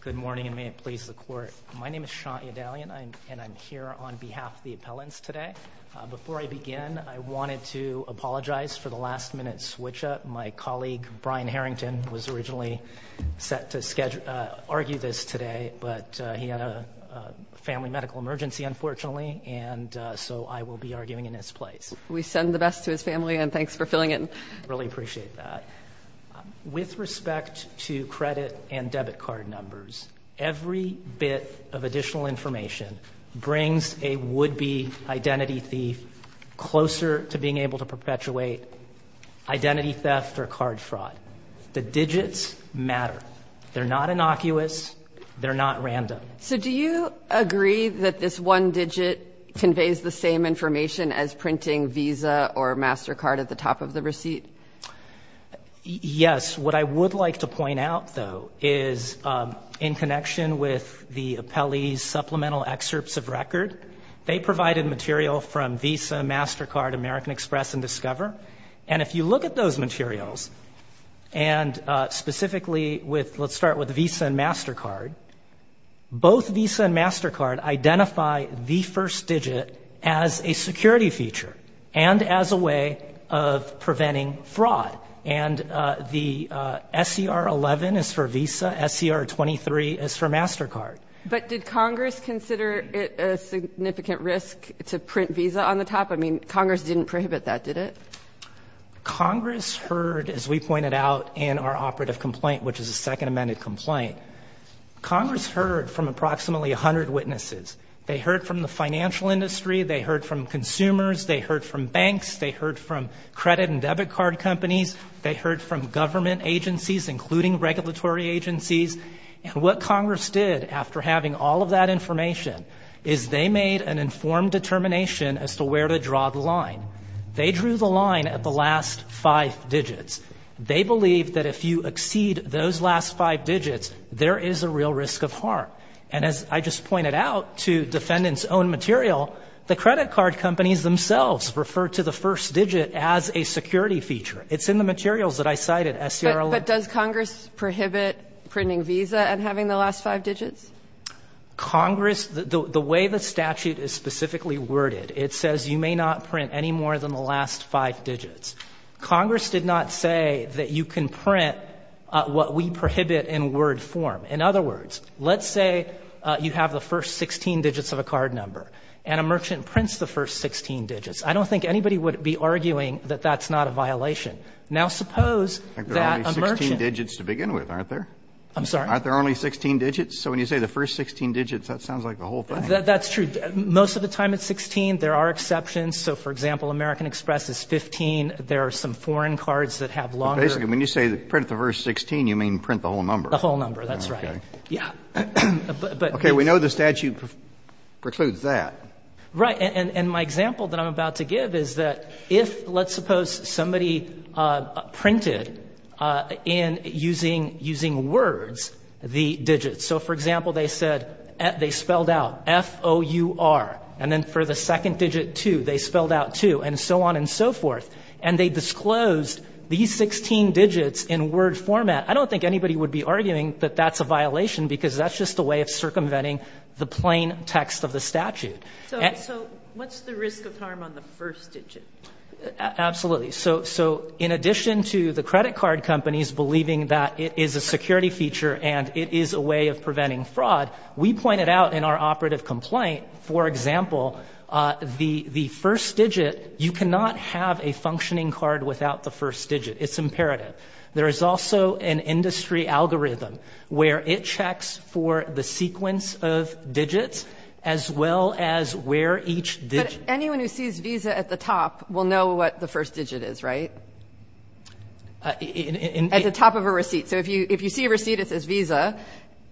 Good morning and may it please the Court. My name is Sean Edalion and I'm here on behalf of the appellants today. Before I begin, I wanted to apologize for the last-minute switch-up. My colleague, Brian Harrington, was originally set to argue this today, but he had a family medical emergency, unfortunately, and so I will be arguing in his place. We send the best to his family, and thanks for filling in. I really appreciate that. With respect to credit and debit card numbers, every bit of additional information brings a would-be identity thief closer to being able to perpetuate identity theft or card fraud. The digits matter. They're not innocuous. They're not random. So do you agree that this one digit conveys the same information as printing Visa or MasterCard at the top of the receipt? Yes. What I would like to point out, though, is in connection with the appellee's supplemental excerpts of record, they provided material from Visa, MasterCard, American Express, and Discover. And if you look at those materials, and specifically with, let's start with Visa and MasterCard, both Visa and MasterCard identify the first digit as a security feature and as a way of preventing fraud. And the SCR-11 is for Visa. SCR-23 is for MasterCard. But did Congress consider it a significant risk to print Visa on the top? I mean, Congress didn't prohibit that, did it? Congress heard, as we pointed out in our operative complaint, which is a Second Amendment complaint, Congress heard from approximately 100 witnesses. They heard from the financial industry. They heard from consumers. They heard from banks. They heard from credit and debit card companies. They heard from government agencies, including regulatory agencies. And what Congress did, after having all of that information, is they made an informed determination as to where to draw the line. They drew the line at the last five digits. They believe that if you exceed those last five digits, there is a real risk of harm. And as I just pointed out to defendant's own material, the credit card companies themselves refer to the first digit as a security feature. It's in the materials that I cited, SCR-11. But does Congress prohibit printing Visa and having the last five digits? Congress, the way the statute is specifically worded, it says you may not print any more than the last five digits. Congress did not say that you can print what we prohibit in word form. In other words, let's say you have the first 16 digits of a card number, and a merchant prints the first 16 digits. I don't think anybody would be arguing that that's not a violation. Now, suppose that a merchant ---- Kennedy, I think there are only 16 digits to begin with, aren't there? I'm sorry? Aren't there only 16 digits? So when you say the first 16 digits, that sounds like the whole thing. That's true. Most of the time it's 16. There are exceptions. So, for example, American Express is 15. There are some foreign cards that have longer ---- But basically, when you say print the first 16, you mean print the whole number. The whole number, that's right. Okay. Yeah. But ---- Okay. We know the statute precludes that. Right. And my example that I'm about to give is that if, let's suppose somebody printed in using words the digits. So, for example, they said they spelled out F-O-U-R, and then for the second digit 2, they spelled out 2, and so on and so forth, and they disclosed these 16 digits in word format. I don't think anybody would be arguing that that's a violation because that's just a way of circumventing the plain text of the statute. So what's the risk of harm on the first digit? Absolutely. So in addition to the credit card companies believing that it is a security feature and it is a way of preventing fraud, we pointed out in our operative complaint, for example, the first digit, you cannot have a functioning card without the first digit. It's imperative. There is also an industry algorithm where it checks for the sequence of digits as well as where each digit ---- But anyone who sees Visa at the top will know what the first digit is, right? At the top of a receipt. So if you see a receipt that says Visa,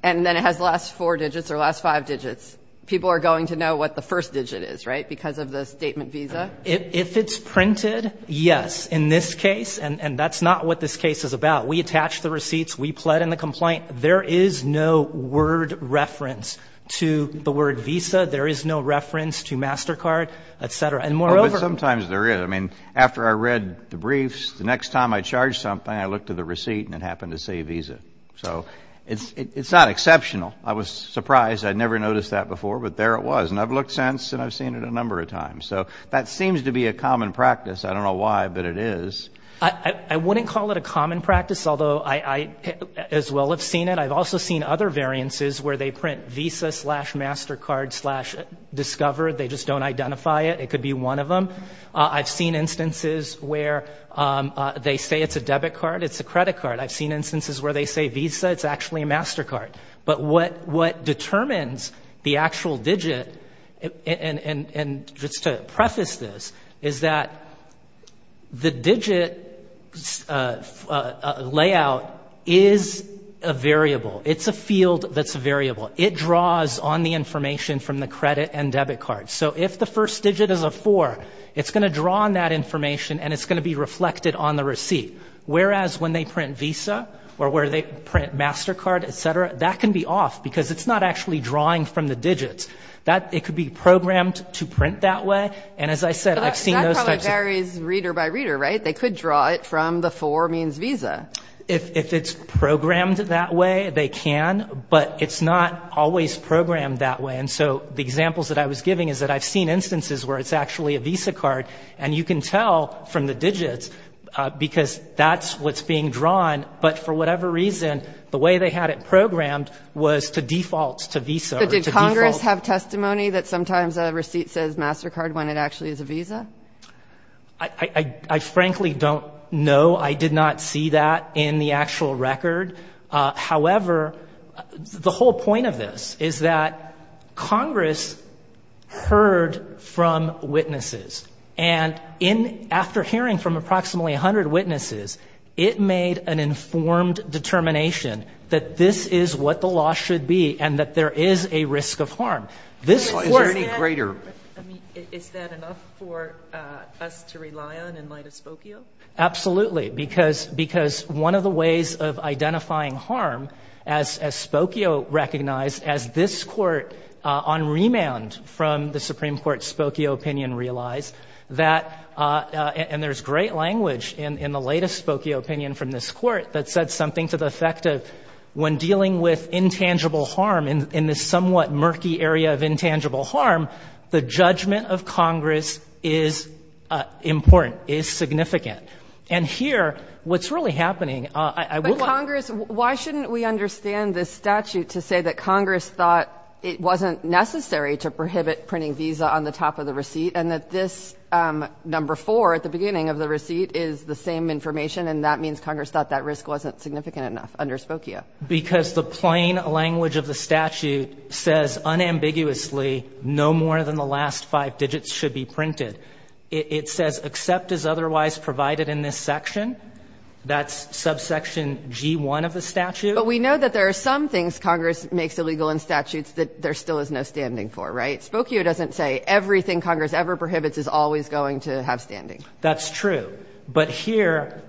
and then it has the last four digits or last five digits, people are going to know what the first digit is, right, because of the statement Visa? If it's printed, yes, in this case. And that's not what this case is about. We attach the receipts. We plead in the complaint. There is no word reference to the word Visa. There is no reference to MasterCard, et cetera. And moreover ---- But sometimes there is. I mean, after I read the briefs, the next time I charged something, I looked at the receipt and it happened to say Visa. So it's not exceptional. I was surprised. I had never noticed that before, but there it was. And I've looked since and I've seen it a number of times. So that seems to be a common practice. I don't know why, but it is. I wouldn't call it a common practice, although I as well have seen it. I've also seen other variances where they print Visa slash MasterCard slash Discover. They just don't identify it. It could be one of them. I've seen instances where they say it's a debit card, it's a credit card. I've seen instances where they say Visa, it's actually a MasterCard. But what determines the actual digit, and just to preface this, is that the digit layout is a variable. It's a field that's a variable. It draws on the information from the credit and debit cards. So if the first digit is a four, it's going to draw on that information and it's going to be reflected on the receipt. Whereas when they print Visa or where they print MasterCard, et cetera, that can be off because it's not actually drawing from the digits. It could be programmed to print that way. And as I said, I've seen those types of – That probably varies reader by reader, right? They could draw it from the four means Visa. If it's programmed that way, they can. But it's not always programmed that way. And so the examples that I was giving is that I've seen instances where it's actually a Visa card. And you can tell from the digits because that's what's being drawn. But for whatever reason, the way they had it programmed was to default to Visa. So did Congress have testimony that sometimes a receipt says MasterCard when it actually is a Visa? I frankly don't know. I did not see that in the actual record. However, the whole point of this is that Congress heard from witnesses. And after hearing from approximately 100 witnesses, it made an informed determination that this is what the law should be and that there is a risk of harm. Is there any greater? Is that enough for us to rely on in light of Spokio? Absolutely. Because one of the ways of identifying harm, as Spokio recognized, as this Court on remand from the Supreme Court Spokio opinion realized, and there's great language in the latest Spokio opinion from this Court that said something to the effect of when dealing with intangible harm in this somewhat murky area of intangible harm, the judgment of Congress is important, is significant. And here, what's really happening, I will not ---- But, Congress, why shouldn't we understand this statute to say that Congress thought it wasn't necessary to prohibit printing Visa on the top of the receipt and that this number 4 at the beginning of the receipt is the same information and that means Congress thought that risk wasn't significant enough under Spokio? Because the plain language of the statute says unambiguously no more than the last five digits should be printed. It says except as otherwise provided in this section. That's subsection G1 of the statute. But we know that there are some things Congress makes illegal in statutes that there still is no standing for, right? Spokio doesn't say everything Congress ever prohibits is always going to have standing. That's true. But here,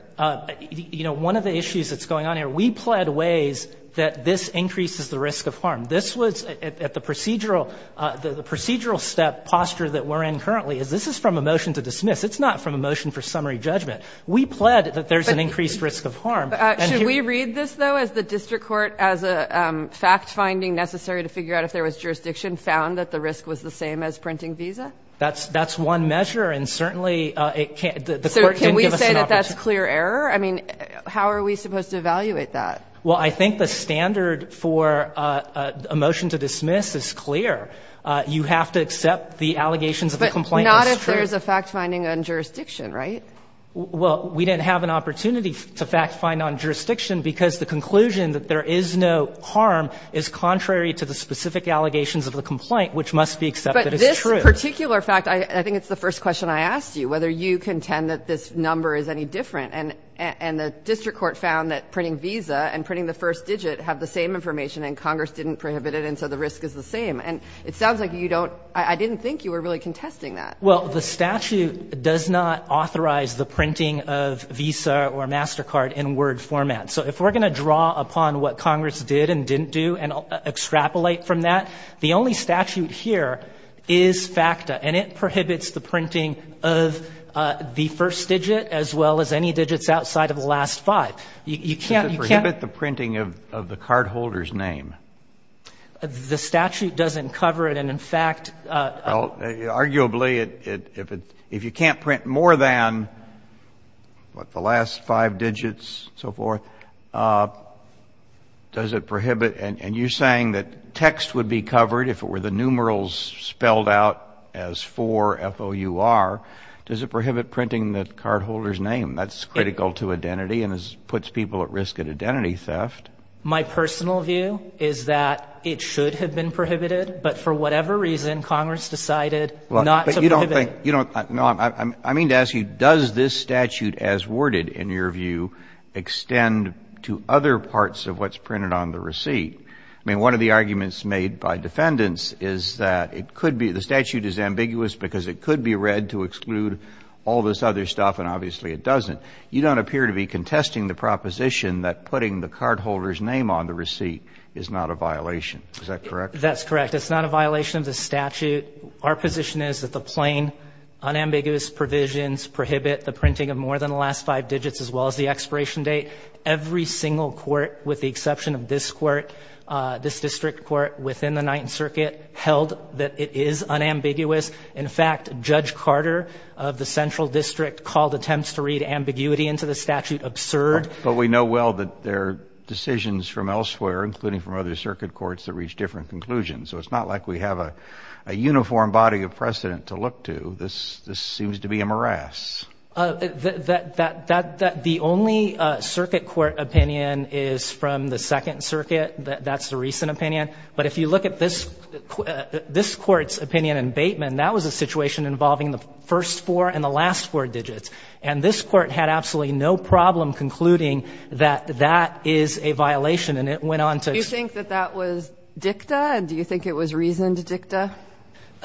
you know, one of the issues that's going on here, is that we pled ways that this increases the risk of harm. This was at the procedural step posture that we're in currently, is this is from a motion to dismiss. It's not from a motion for summary judgment. We pled that there's an increased risk of harm. Should we read this, though, as the district court, as a fact-finding necessary to figure out if there was jurisdiction found that the risk was the same as printing Visa? That's one measure, and certainly it can't ---- So can we say that that's clear error? I mean, how are we supposed to evaluate that? Well, I think the standard for a motion to dismiss is clear. You have to accept the allegations of the complaint as true. But not if there's a fact-finding on jurisdiction, right? Well, we didn't have an opportunity to fact-find on jurisdiction because the conclusion that there is no harm is contrary to the specific allegations of the complaint, which must be accepted as true. But this particular fact, I think it's the first question I asked you, whether you contend that this number is any different. And the district court found that printing Visa and printing the first digit have the same information, and Congress didn't prohibit it, and so the risk is the same. And it sounds like you don't ---- I didn't think you were really contesting that. Well, the statute does not authorize the printing of Visa or MasterCard in Word format. So if we're going to draw upon what Congress did and didn't do and extrapolate from that, the only statute here is FACTA. And it prohibits the printing of the first digit as well as any digits outside of the last five. You can't ---- Does it prohibit the printing of the cardholder's name? The statute doesn't cover it. And in fact ---- Well, arguably, if you can't print more than, what, the last five digits, so forth, does it prohibit ---- and you're saying that text would be covered if it were the last four, F-O-U-R, does it prohibit printing the cardholder's name? That's critical to identity and puts people at risk of identity theft. My personal view is that it should have been prohibited, but for whatever reason, Congress decided not to prohibit it. But you don't think ---- I mean to ask you, does this statute as worded, in your view, I mean, one of the arguments made by defendants is that it could be the statute is ambiguous because it could be read to exclude all this other stuff, and obviously it doesn't. You don't appear to be contesting the proposition that putting the cardholder's name on the receipt is not a violation. Is that correct? That's correct. It's not a violation of the statute. Our position is that the plain, unambiguous provisions prohibit the printing of more than the last five digits as well as the expiration date. Every single court, with the exception of this court, this district court within the Ninth Circuit, held that it is unambiguous. In fact, Judge Carter of the Central District called attempts to read ambiguity into the statute absurd. But we know well that there are decisions from elsewhere, including from other circuit courts, that reach different conclusions. So it's not like we have a uniform body of precedent to look to. This seems to be a morass. The only circuit court opinion is from the Second Circuit. That's the recent opinion. But if you look at this Court's opinion in Bateman, that was a situation involving the first four and the last four digits. And this Court had absolutely no problem concluding that that is a violation, and it went on to ex- Do you think that that was dicta? Do you think it was reasoned dicta?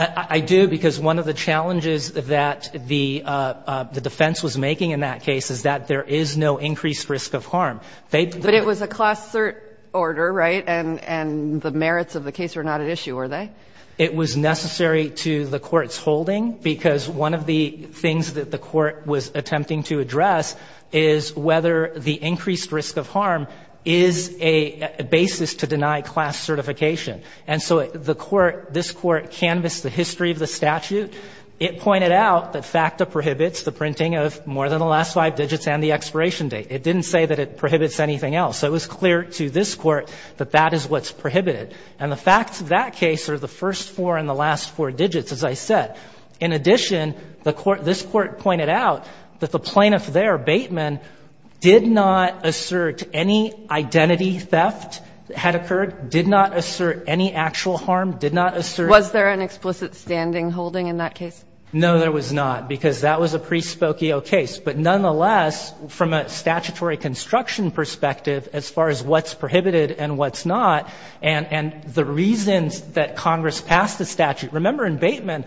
I do, because one of the challenges that the defense was making in that case is that there is no increased risk of harm. But it was a class cert order, right? And the merits of the case were not at issue, were they? It was necessary to the Court's holding, because one of the things that the Court was attempting to address is whether the increased risk of harm is a basis to deny class certification. And so the Court, this Court, canvassed the history of the statute. It pointed out that FACTA prohibits the printing of more than the last five digits and the expiration date. It didn't say that it prohibits anything else. So it was clear to this Court that that is what's prohibited. And the facts of that case are the first four and the last four digits, as I said. In addition, the Court, this Court pointed out that the plaintiff there, Bateman, did not assert any identity theft that had occurred, did not assert any actual harm, did not assert. Was there an explicit standing holding in that case? No, there was not, because that was a prespocio case. But nonetheless, from a statutory construction perspective, as far as what's prohibited and what's not, and the reasons that Congress passed the statute. Remember in Bateman,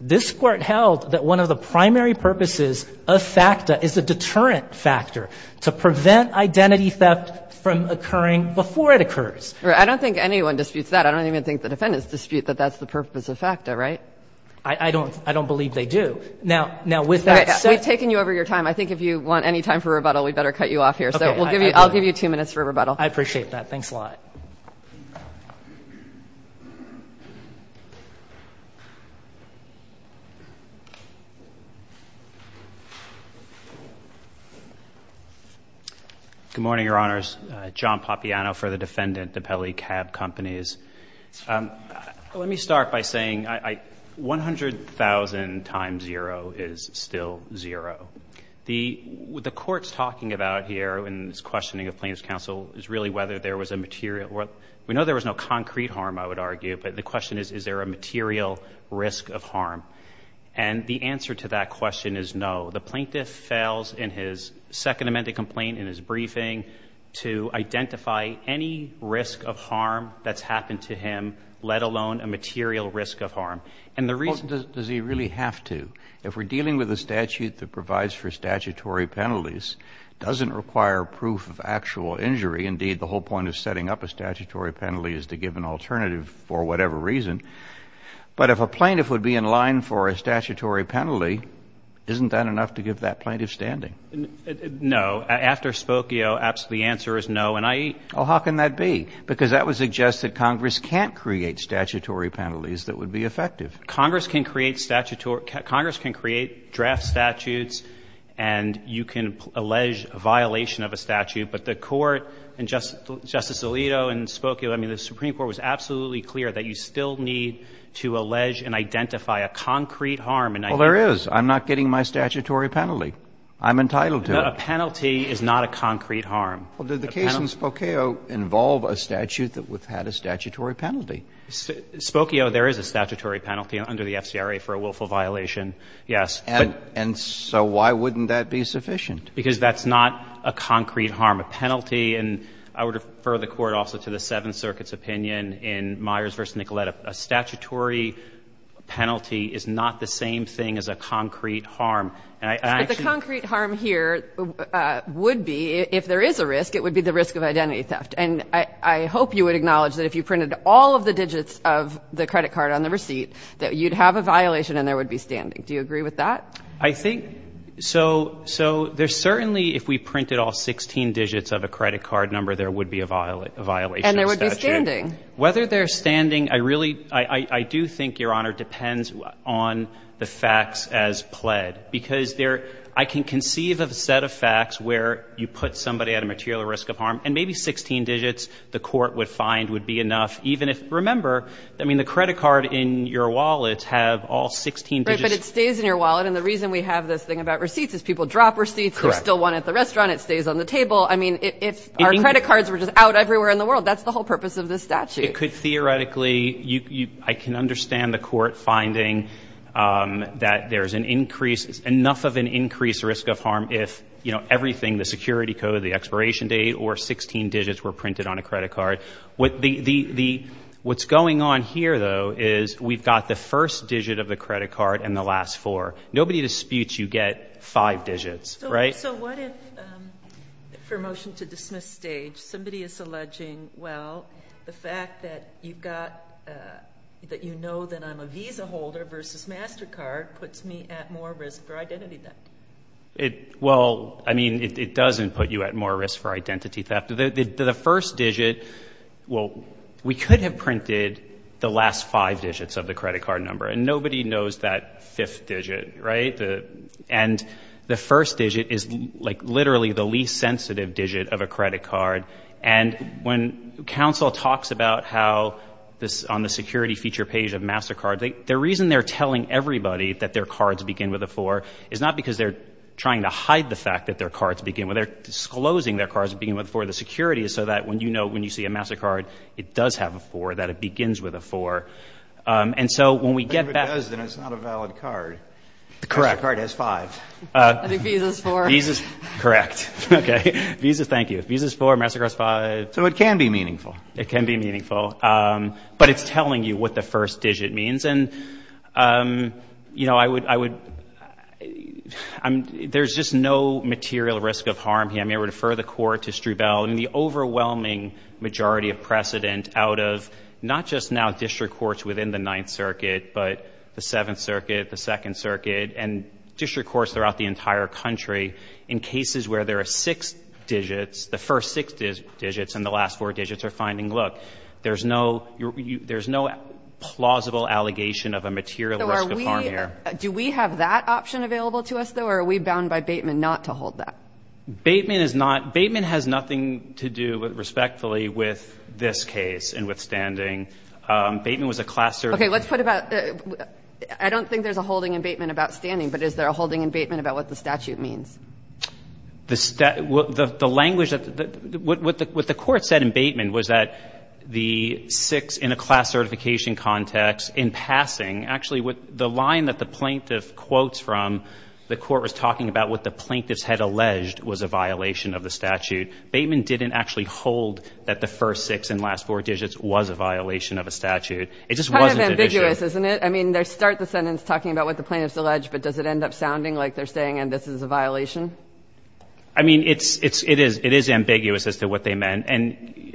this Court held that one of the primary purposes of FACTA is to deterrent FACTA, to prevent identity theft from occurring before it occurs. I don't think anyone disputes that. I don't even think the defendants dispute that that's the purpose of FACTA, right? I don't believe they do. Now, with that said. We've taken you over your time. I think if you want any time for rebuttal, we'd better cut you off here. So I'll give you two minutes for rebuttal. I appreciate that. Thanks a lot. Good morning, Your Honors. John Papiano for the defendant, Depele Cab Companies. Let me start by saying 100,000 times zero is still zero. What the Court's talking about here in its questioning of plaintiff's counsel is really whether there was a material or we know there was no concrete harm, I would argue. But the question is, is there a material risk of harm? And the answer to that question is no. The plaintiff fails in his Second Amendment complaint, in his briefing, to identify any risk of harm that's happened to him, let alone a material risk of harm. And the reason the Court's asking is, does he really have to? If we're dealing with a statute that provides for statutory penalties, doesn't require proof of actual injury. Indeed, the whole point of setting up a statutory penalty is to give an alternative for whatever reason. But if a plaintiff would be in line for a statutory penalty, isn't that enough to give that plaintiff standing? No. After Spokio, absolutely the answer is no. And I eat. Oh, how can that be? Because that would suggest that Congress can't create statutory penalties that would be effective. Congress can create statutory – Congress can create draft statutes and you can allege a violation of a statute, but the Court and Justice Alito and Spokio – I mean, the Supreme Court was absolutely clear that you still need to allege and identify a concrete harm. Well, there is. I'm not getting my statutory penalty. I'm entitled to it. A penalty is not a concrete harm. Well, did the case in Spokio involve a statute that had a statutory penalty? Spokio, there is a statutory penalty under the FCRA for a willful violation. Yes. And so why wouldn't that be sufficient? Because that's not a concrete harm. A penalty – and I would refer the Court also to the Seventh Circuit's opinion in Myers v. Nicoletta. A statutory penalty is not the same thing as a concrete harm. And I actually – But the concrete harm here would be, if there is a risk, it would be the risk of identity theft. And I hope you would acknowledge that if you printed all of the digits of the credit card on the receipt, that you'd have a violation and there would be standing. Do you agree with that? I think – so there's certainly, if we printed all 16 digits of a credit card number, there would be a violation of statute. And there would be standing. Whether there's standing, I really – I do think, Your Honor, depends on the facts as pled, because there – I can conceive of a set of facts where you put somebody at a material risk of harm, and maybe 16 digits the court would find would be enough, even if – remember, I mean, the credit card in your wallet have all 16 digits. Right, but it stays in your wallet. And the reason we have this thing about receipts is people drop receipts. Correct. There's still one at the restaurant. It stays on the table. I mean, if our credit cards were just out everywhere in the world, that's the whole purpose of this statute. It could theoretically – I can understand the court finding that there's an increase – enough of an increased risk of harm if, you know, everything, the security code, the expiration date, or 16 digits were printed on a credit card. What's going on here, though, is we've got the first digit of the credit card and the last four. Nobody disputes you get five digits, right? So what if, for motion to dismiss stage, somebody is alleging, well, the fact that you've a Visa holder versus MasterCard puts me at more risk for identity theft? Well, I mean, it doesn't put you at more risk for identity theft. The first digit – well, we could have printed the last five digits of the credit card number, and nobody knows that fifth digit, right? And the first digit is, like, literally the least sensitive digit of a credit card. And when counsel talks about how this – on the security feature page of MasterCard, the reason they're telling everybody that their cards begin with a four is not because they're trying to hide the fact that their cards begin with – they're disclosing their cards begin with a four. The security is so that when you know – when you see a MasterCard, it does have a four, that it begins with a four. And so when we get back – But if it does, then it's not a valid card. Correct. Because the card has five. I think Visa's four. Visa's – correct. Okay. Visa – thank you. Visa's four. MasterCard's five. So it can be meaningful. It can be meaningful. But it's telling you what the first digit means. And, you know, I would – there's just no material risk of harm here. I mean, I would refer the Court to Strubell. I mean, the overwhelming majority of precedent out of not just now district courts within the Ninth Circuit, but the Seventh Circuit, the Second Circuit, and district courts throughout the entire country, in cases where there are six digits, the first six digits and the last four digits are finding, look, there's no – there's no plausible allegation of a material risk of harm here. So are we – do we have that option available to us, though, or are we bound by Bateman not to hold that? Bateman is not – Bateman has nothing to do, respectfully, with this case and with standing. Bateman was a class – Okay. Let's put about – I don't think there's a holding in Bateman about standing, but is there a holding in Bateman about what the statute means? The – the language that – what the Court said in Bateman was that the six in a class certification context, in passing, actually, the line that the plaintiff quotes from, the Court was talking about what the plaintiffs had alleged was a violation of the statute. Bateman didn't actually hold that the first six and last four digits was a violation of a statute. It just wasn't an issue. Kind of ambiguous, isn't it? I mean, they start the sentence talking about what the plaintiffs alleged, but does it end up sounding like they're saying, and this is a violation? I mean, it's – it is – it is ambiguous as to what they meant. And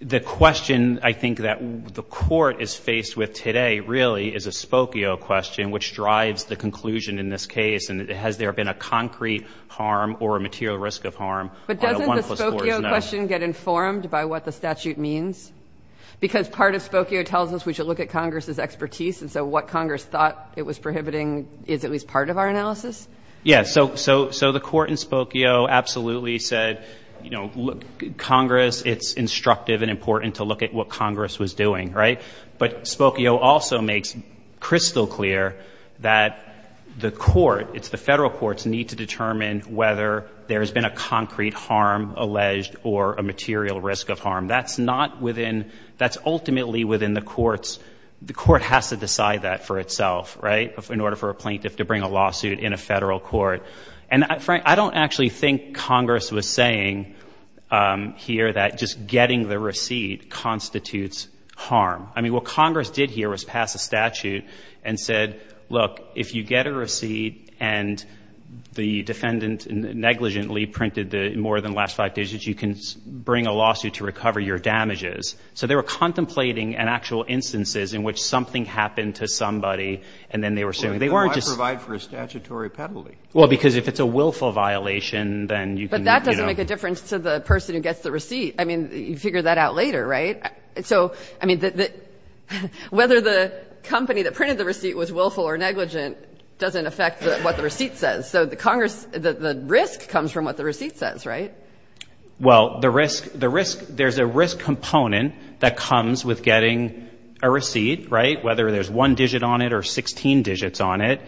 the question, I think, that the Court is faced with today, really, is a Spokio question, which drives the conclusion in this case, and has there been a concrete harm or a material risk of harm on a 1 plus 4 is no. But doesn't the Spokio question get informed by what the statute means? Because part of Spokio tells us we should look at Congress's expertise, and so what Congress thought it was prohibiting is at least part of our analysis? Yeah. So the Court in Spokio absolutely said, you know, look, Congress, it's instructive and important to look at what Congress was doing, right? But Spokio also makes crystal clear that the Court, it's the Federal Courts, need to determine whether there has been a concrete harm alleged or a material risk of harm. That's not within – that's ultimately within the Courts. The Court has to decide that for itself, right, in order for a plaintiff to bring a lawsuit in a Federal Court. And I don't actually think Congress was saying here that just getting the receipt constitutes harm. I mean, what Congress did here was pass a statute and said, look, if you get a receipt and the defendant negligently printed more than the last five digits, you can bring a lawsuit to recover your damages. So they were contemplating an actual instances in which something happened to somebody and then they were saying – Well, then why provide for a statutory penalty? Well, because if it's a willful violation, then you can – But that doesn't make a difference to the person who gets the receipt. I mean, you figure that out later, right? So, I mean, whether the company that printed the receipt was willful or negligent doesn't affect what the receipt says. So the Congress – the risk comes from what the receipt says, right? Well, the risk – the risk – there's a risk component that comes with getting a receipt, right, whether there's one digit on it or 16 digits on it.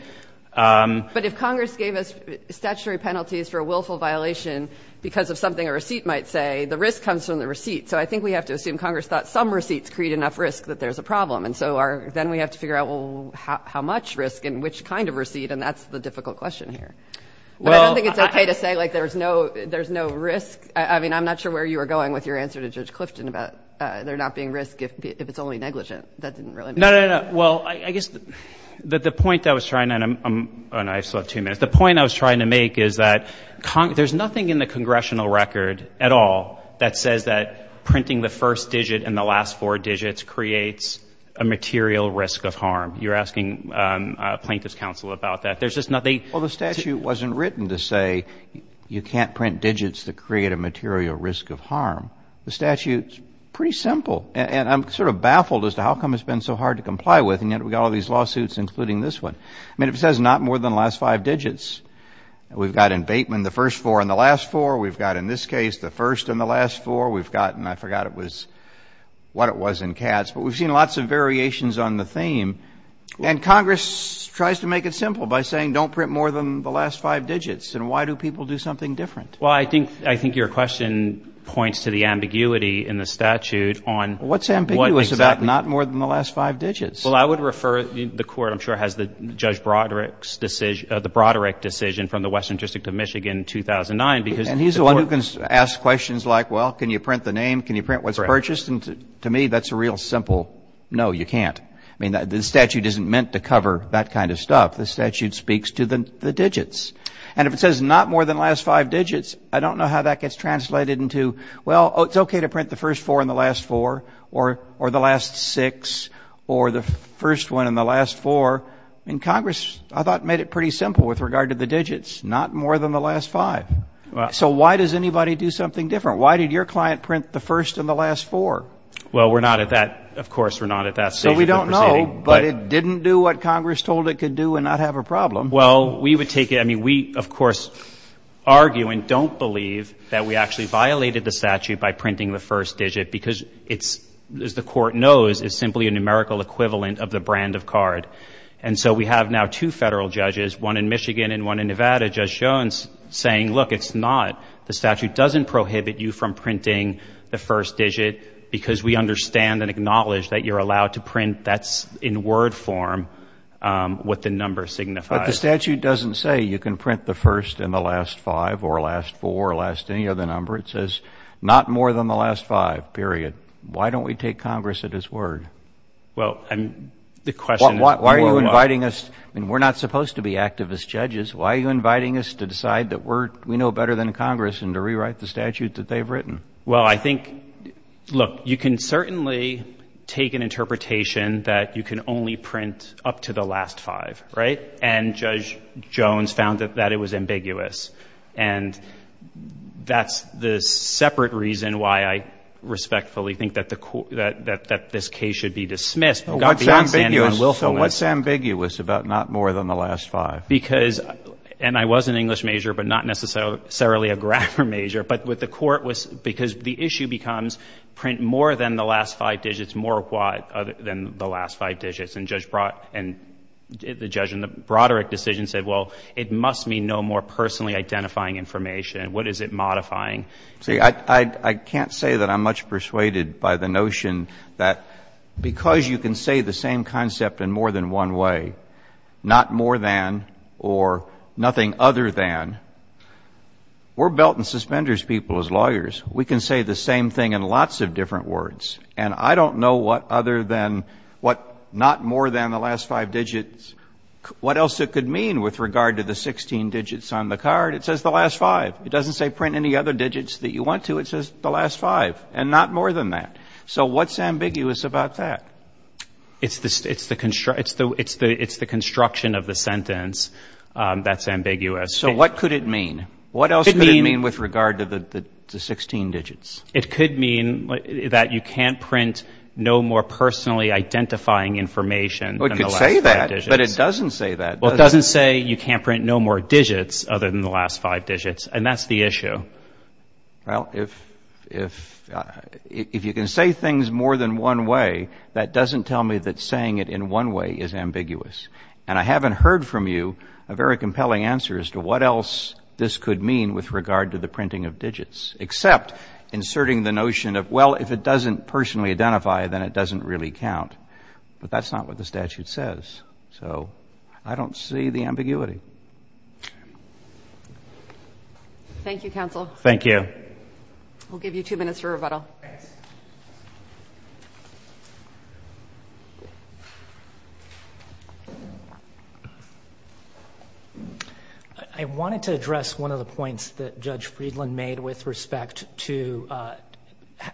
But if Congress gave us statutory penalties for a willful violation because of something a receipt might say, the risk comes from the receipt. So I think we have to assume Congress thought some receipts create enough risk that there's a problem. And so our – then we have to figure out, well, how much risk and which kind of receipt, and that's the difficult question here. But I don't think it's okay to say, like, there's no – there's no risk. I mean, I'm not sure where you were going with your answer to Judge Clifton about there not being risk if it's only negligent. That didn't really make sense. No, no, no. Well, I guess the point that I was trying to – oh, no, I still have two minutes. The point I was trying to make is that there's nothing in the congressional record at all that says that printing the first digit and the last four digits creates a material risk of harm. You're asking plaintiffs' counsel about that. There's just nothing. Well, the statute wasn't written to say you can't print digits that create a material risk of harm. The statute's pretty simple. And I'm sort of baffled as to how come it's been so hard to comply with, and yet we've got all these lawsuits, including this one. I mean, it says not more than the last five digits. We've got in Bateman the first four and the last four. We've got in this case the first and the last four. We've got – and I forgot it was – what it was in Katz. But we've seen lots of variations on the theme. And Congress tries to make it simple by saying don't print more than the last five digits. And why do people do something different? Well, I think your question points to the ambiguity in the statute on what exactly – Well, what's ambiguous about not more than the last five digits? Well, I would refer – the Court, I'm sure, has the Judge Broderick's decision – the Broderick decision from the Western District of Michigan, 2009, because – And he's the one who can ask questions like, well, can you print the name? Can you print what's purchased? And to me, that's a real simple no, you can't. I mean, the statute isn't meant to cover that kind of stuff. The statute speaks to the digits. And if it says not more than the last five digits, I don't know how that gets translated into, well, it's okay to print the first four and the last four or the last six or the first one and the last four. I mean, Congress, I thought, made it pretty simple with regard to the digits, not more than the last five. So why does anybody do something different? Why did your client print the first and the last four? I don't know, but it didn't do what Congress told it could do and not have a problem. Well, we would take it – I mean, we, of course, argue and don't believe that we actually violated the statute by printing the first digit because it's – as the Court knows, it's simply a numerical equivalent of the brand of card. And so we have now two Federal judges, one in Michigan and one in Nevada, Judge Jones, saying, look, it's not – the statute doesn't prohibit you from printing the first digit because we understand and acknowledge that you're allowed to print – that's in word form what the number signifies. But the statute doesn't say you can print the first and the last five or last four or last any other number. It says not more than the last five, period. Why don't we take Congress at his word? Well, I'm – the question is – Why are you inviting us – I mean, we're not supposed to be activist judges. Why are you inviting us to decide that we're – we know better than Congress and to rewrite the statute that they've written? Well, I think – look, you can certainly take an interpretation that you can only print up to the last five, right? And Judge Jones found that it was ambiguous. And that's the separate reason why I respectfully think that the – that this case should be dismissed. It's ambiguous. So what's ambiguous about not more than the last five? Because – and I was an English major, but not necessarily a grammar major. But what the court was – because the issue becomes print more than the last five digits, more what other than the last five digits. And Judge – and the judge in the Broderick decision said, well, it must mean no more personally identifying information. What is it modifying? See, I can't say that I'm much persuaded by the notion that because you can say the same concept in more than one way, not more than or nothing other than, we're lawyers, we can say the same thing in lots of different words. And I don't know what other than – what not more than the last five digits – what else it could mean with regard to the 16 digits on the card. It says the last five. It doesn't say print any other digits that you want to. It says the last five and not more than that. So what's ambiguous about that? It's the construction of the sentence that's ambiguous. So what could it mean? What else could it mean with regard to the 16 digits? It could mean that you can't print no more personally identifying information than the last five digits. Well, it could say that, but it doesn't say that, does it? Well, it doesn't say you can't print no more digits other than the last five digits, and that's the issue. Well, if you can say things more than one way, that doesn't tell me that saying it in one way is ambiguous. And I haven't heard from you a very compelling answer as to what else this could mean with regard to the printing of digits, except inserting the notion of, well, if it doesn't personally identify, then it doesn't really count. But that's not what the statute says. So I don't see the ambiguity. Thank you, counsel. Thank you. We'll give you two minutes for rebuttal. I wanted to address one of the points that Judge Friedland made with respect to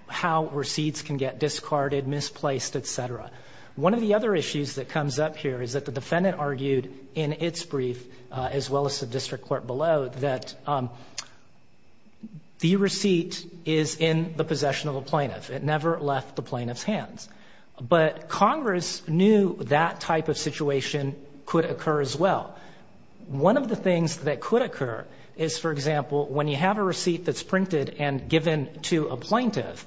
how receipts can get discarded, misplaced, et cetera. One of the other issues that comes up here is that the defendant argued in its brief, as well as the district court below, that the receipt is in the possession of a plaintiff. It never left the plaintiff's hands. But Congress knew that type of situation could occur as well. One of the things that could occur is, for example, when you have a receipt that's printed and given to a plaintiff,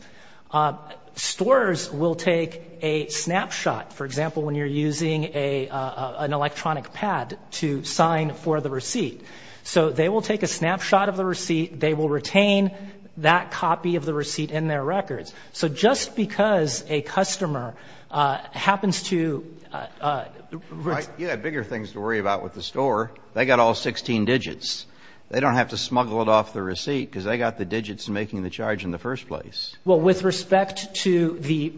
stores will take a snapshot, for example, when you're using an electronic pad to sign for the receipt. So they will take a snapshot of the receipt. They will retain that copy of the receipt in their records. So just because a customer happens to ---- You have bigger things to worry about with the store. They got all 16 digits. They don't have to smuggle it off the receipt because they got the digits making the charge in the first place. Well, with respect to the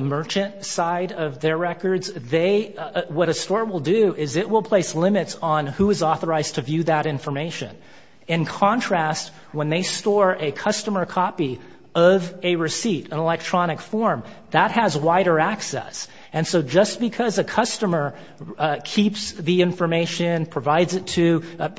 merchant side of their records, they ---- What a store will do is it will place limits on who is authorized to view that information. In contrast, when they store a customer copy of a receipt, an electronic form, that has wider access. And so just because a customer keeps the information, provides it to ----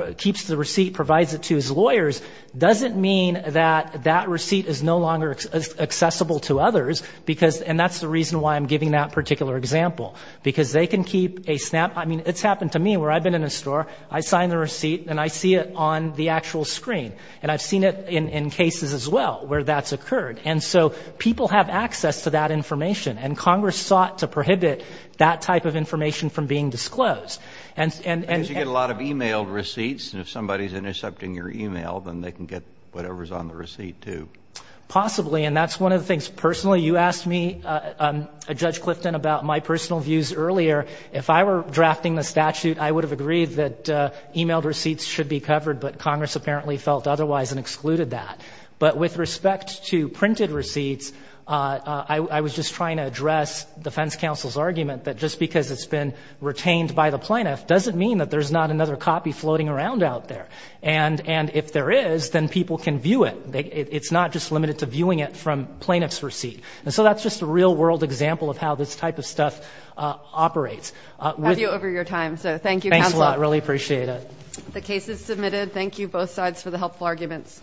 And that's the reason why I'm giving that particular example. Because they can keep a snapshot. I mean, it's happened to me where I've been in a store. I sign the receipt and I see it on the actual screen. And I've seen it in cases as well where that's occurred. And so people have access to that information. And Congress sought to prohibit that type of information from being disclosed. Because you get a lot of e-mail receipts. And if somebody's intercepting your e-mail, then they can get whatever's on the receipt too. Possibly. And that's one of the things. Personally, you asked me, Judge Clifton, about my personal views earlier. If I were drafting the statute, I would have agreed that e-mail receipts should be covered. But Congress apparently felt otherwise and excluded that. But with respect to printed receipts, I was just trying to address defense counsel's argument that just because it's been retained by the plaintiff doesn't mean that there's not another copy floating around out there. And if there is, then people can view it. It's not just limited to viewing it from plaintiff's receipt. And so that's just a real-world example of how this type of stuff operates. I have you over your time. So thank you, counsel. Thanks a lot. I really appreciate it. The case is submitted. Thank you, both sides, for the helpful arguments.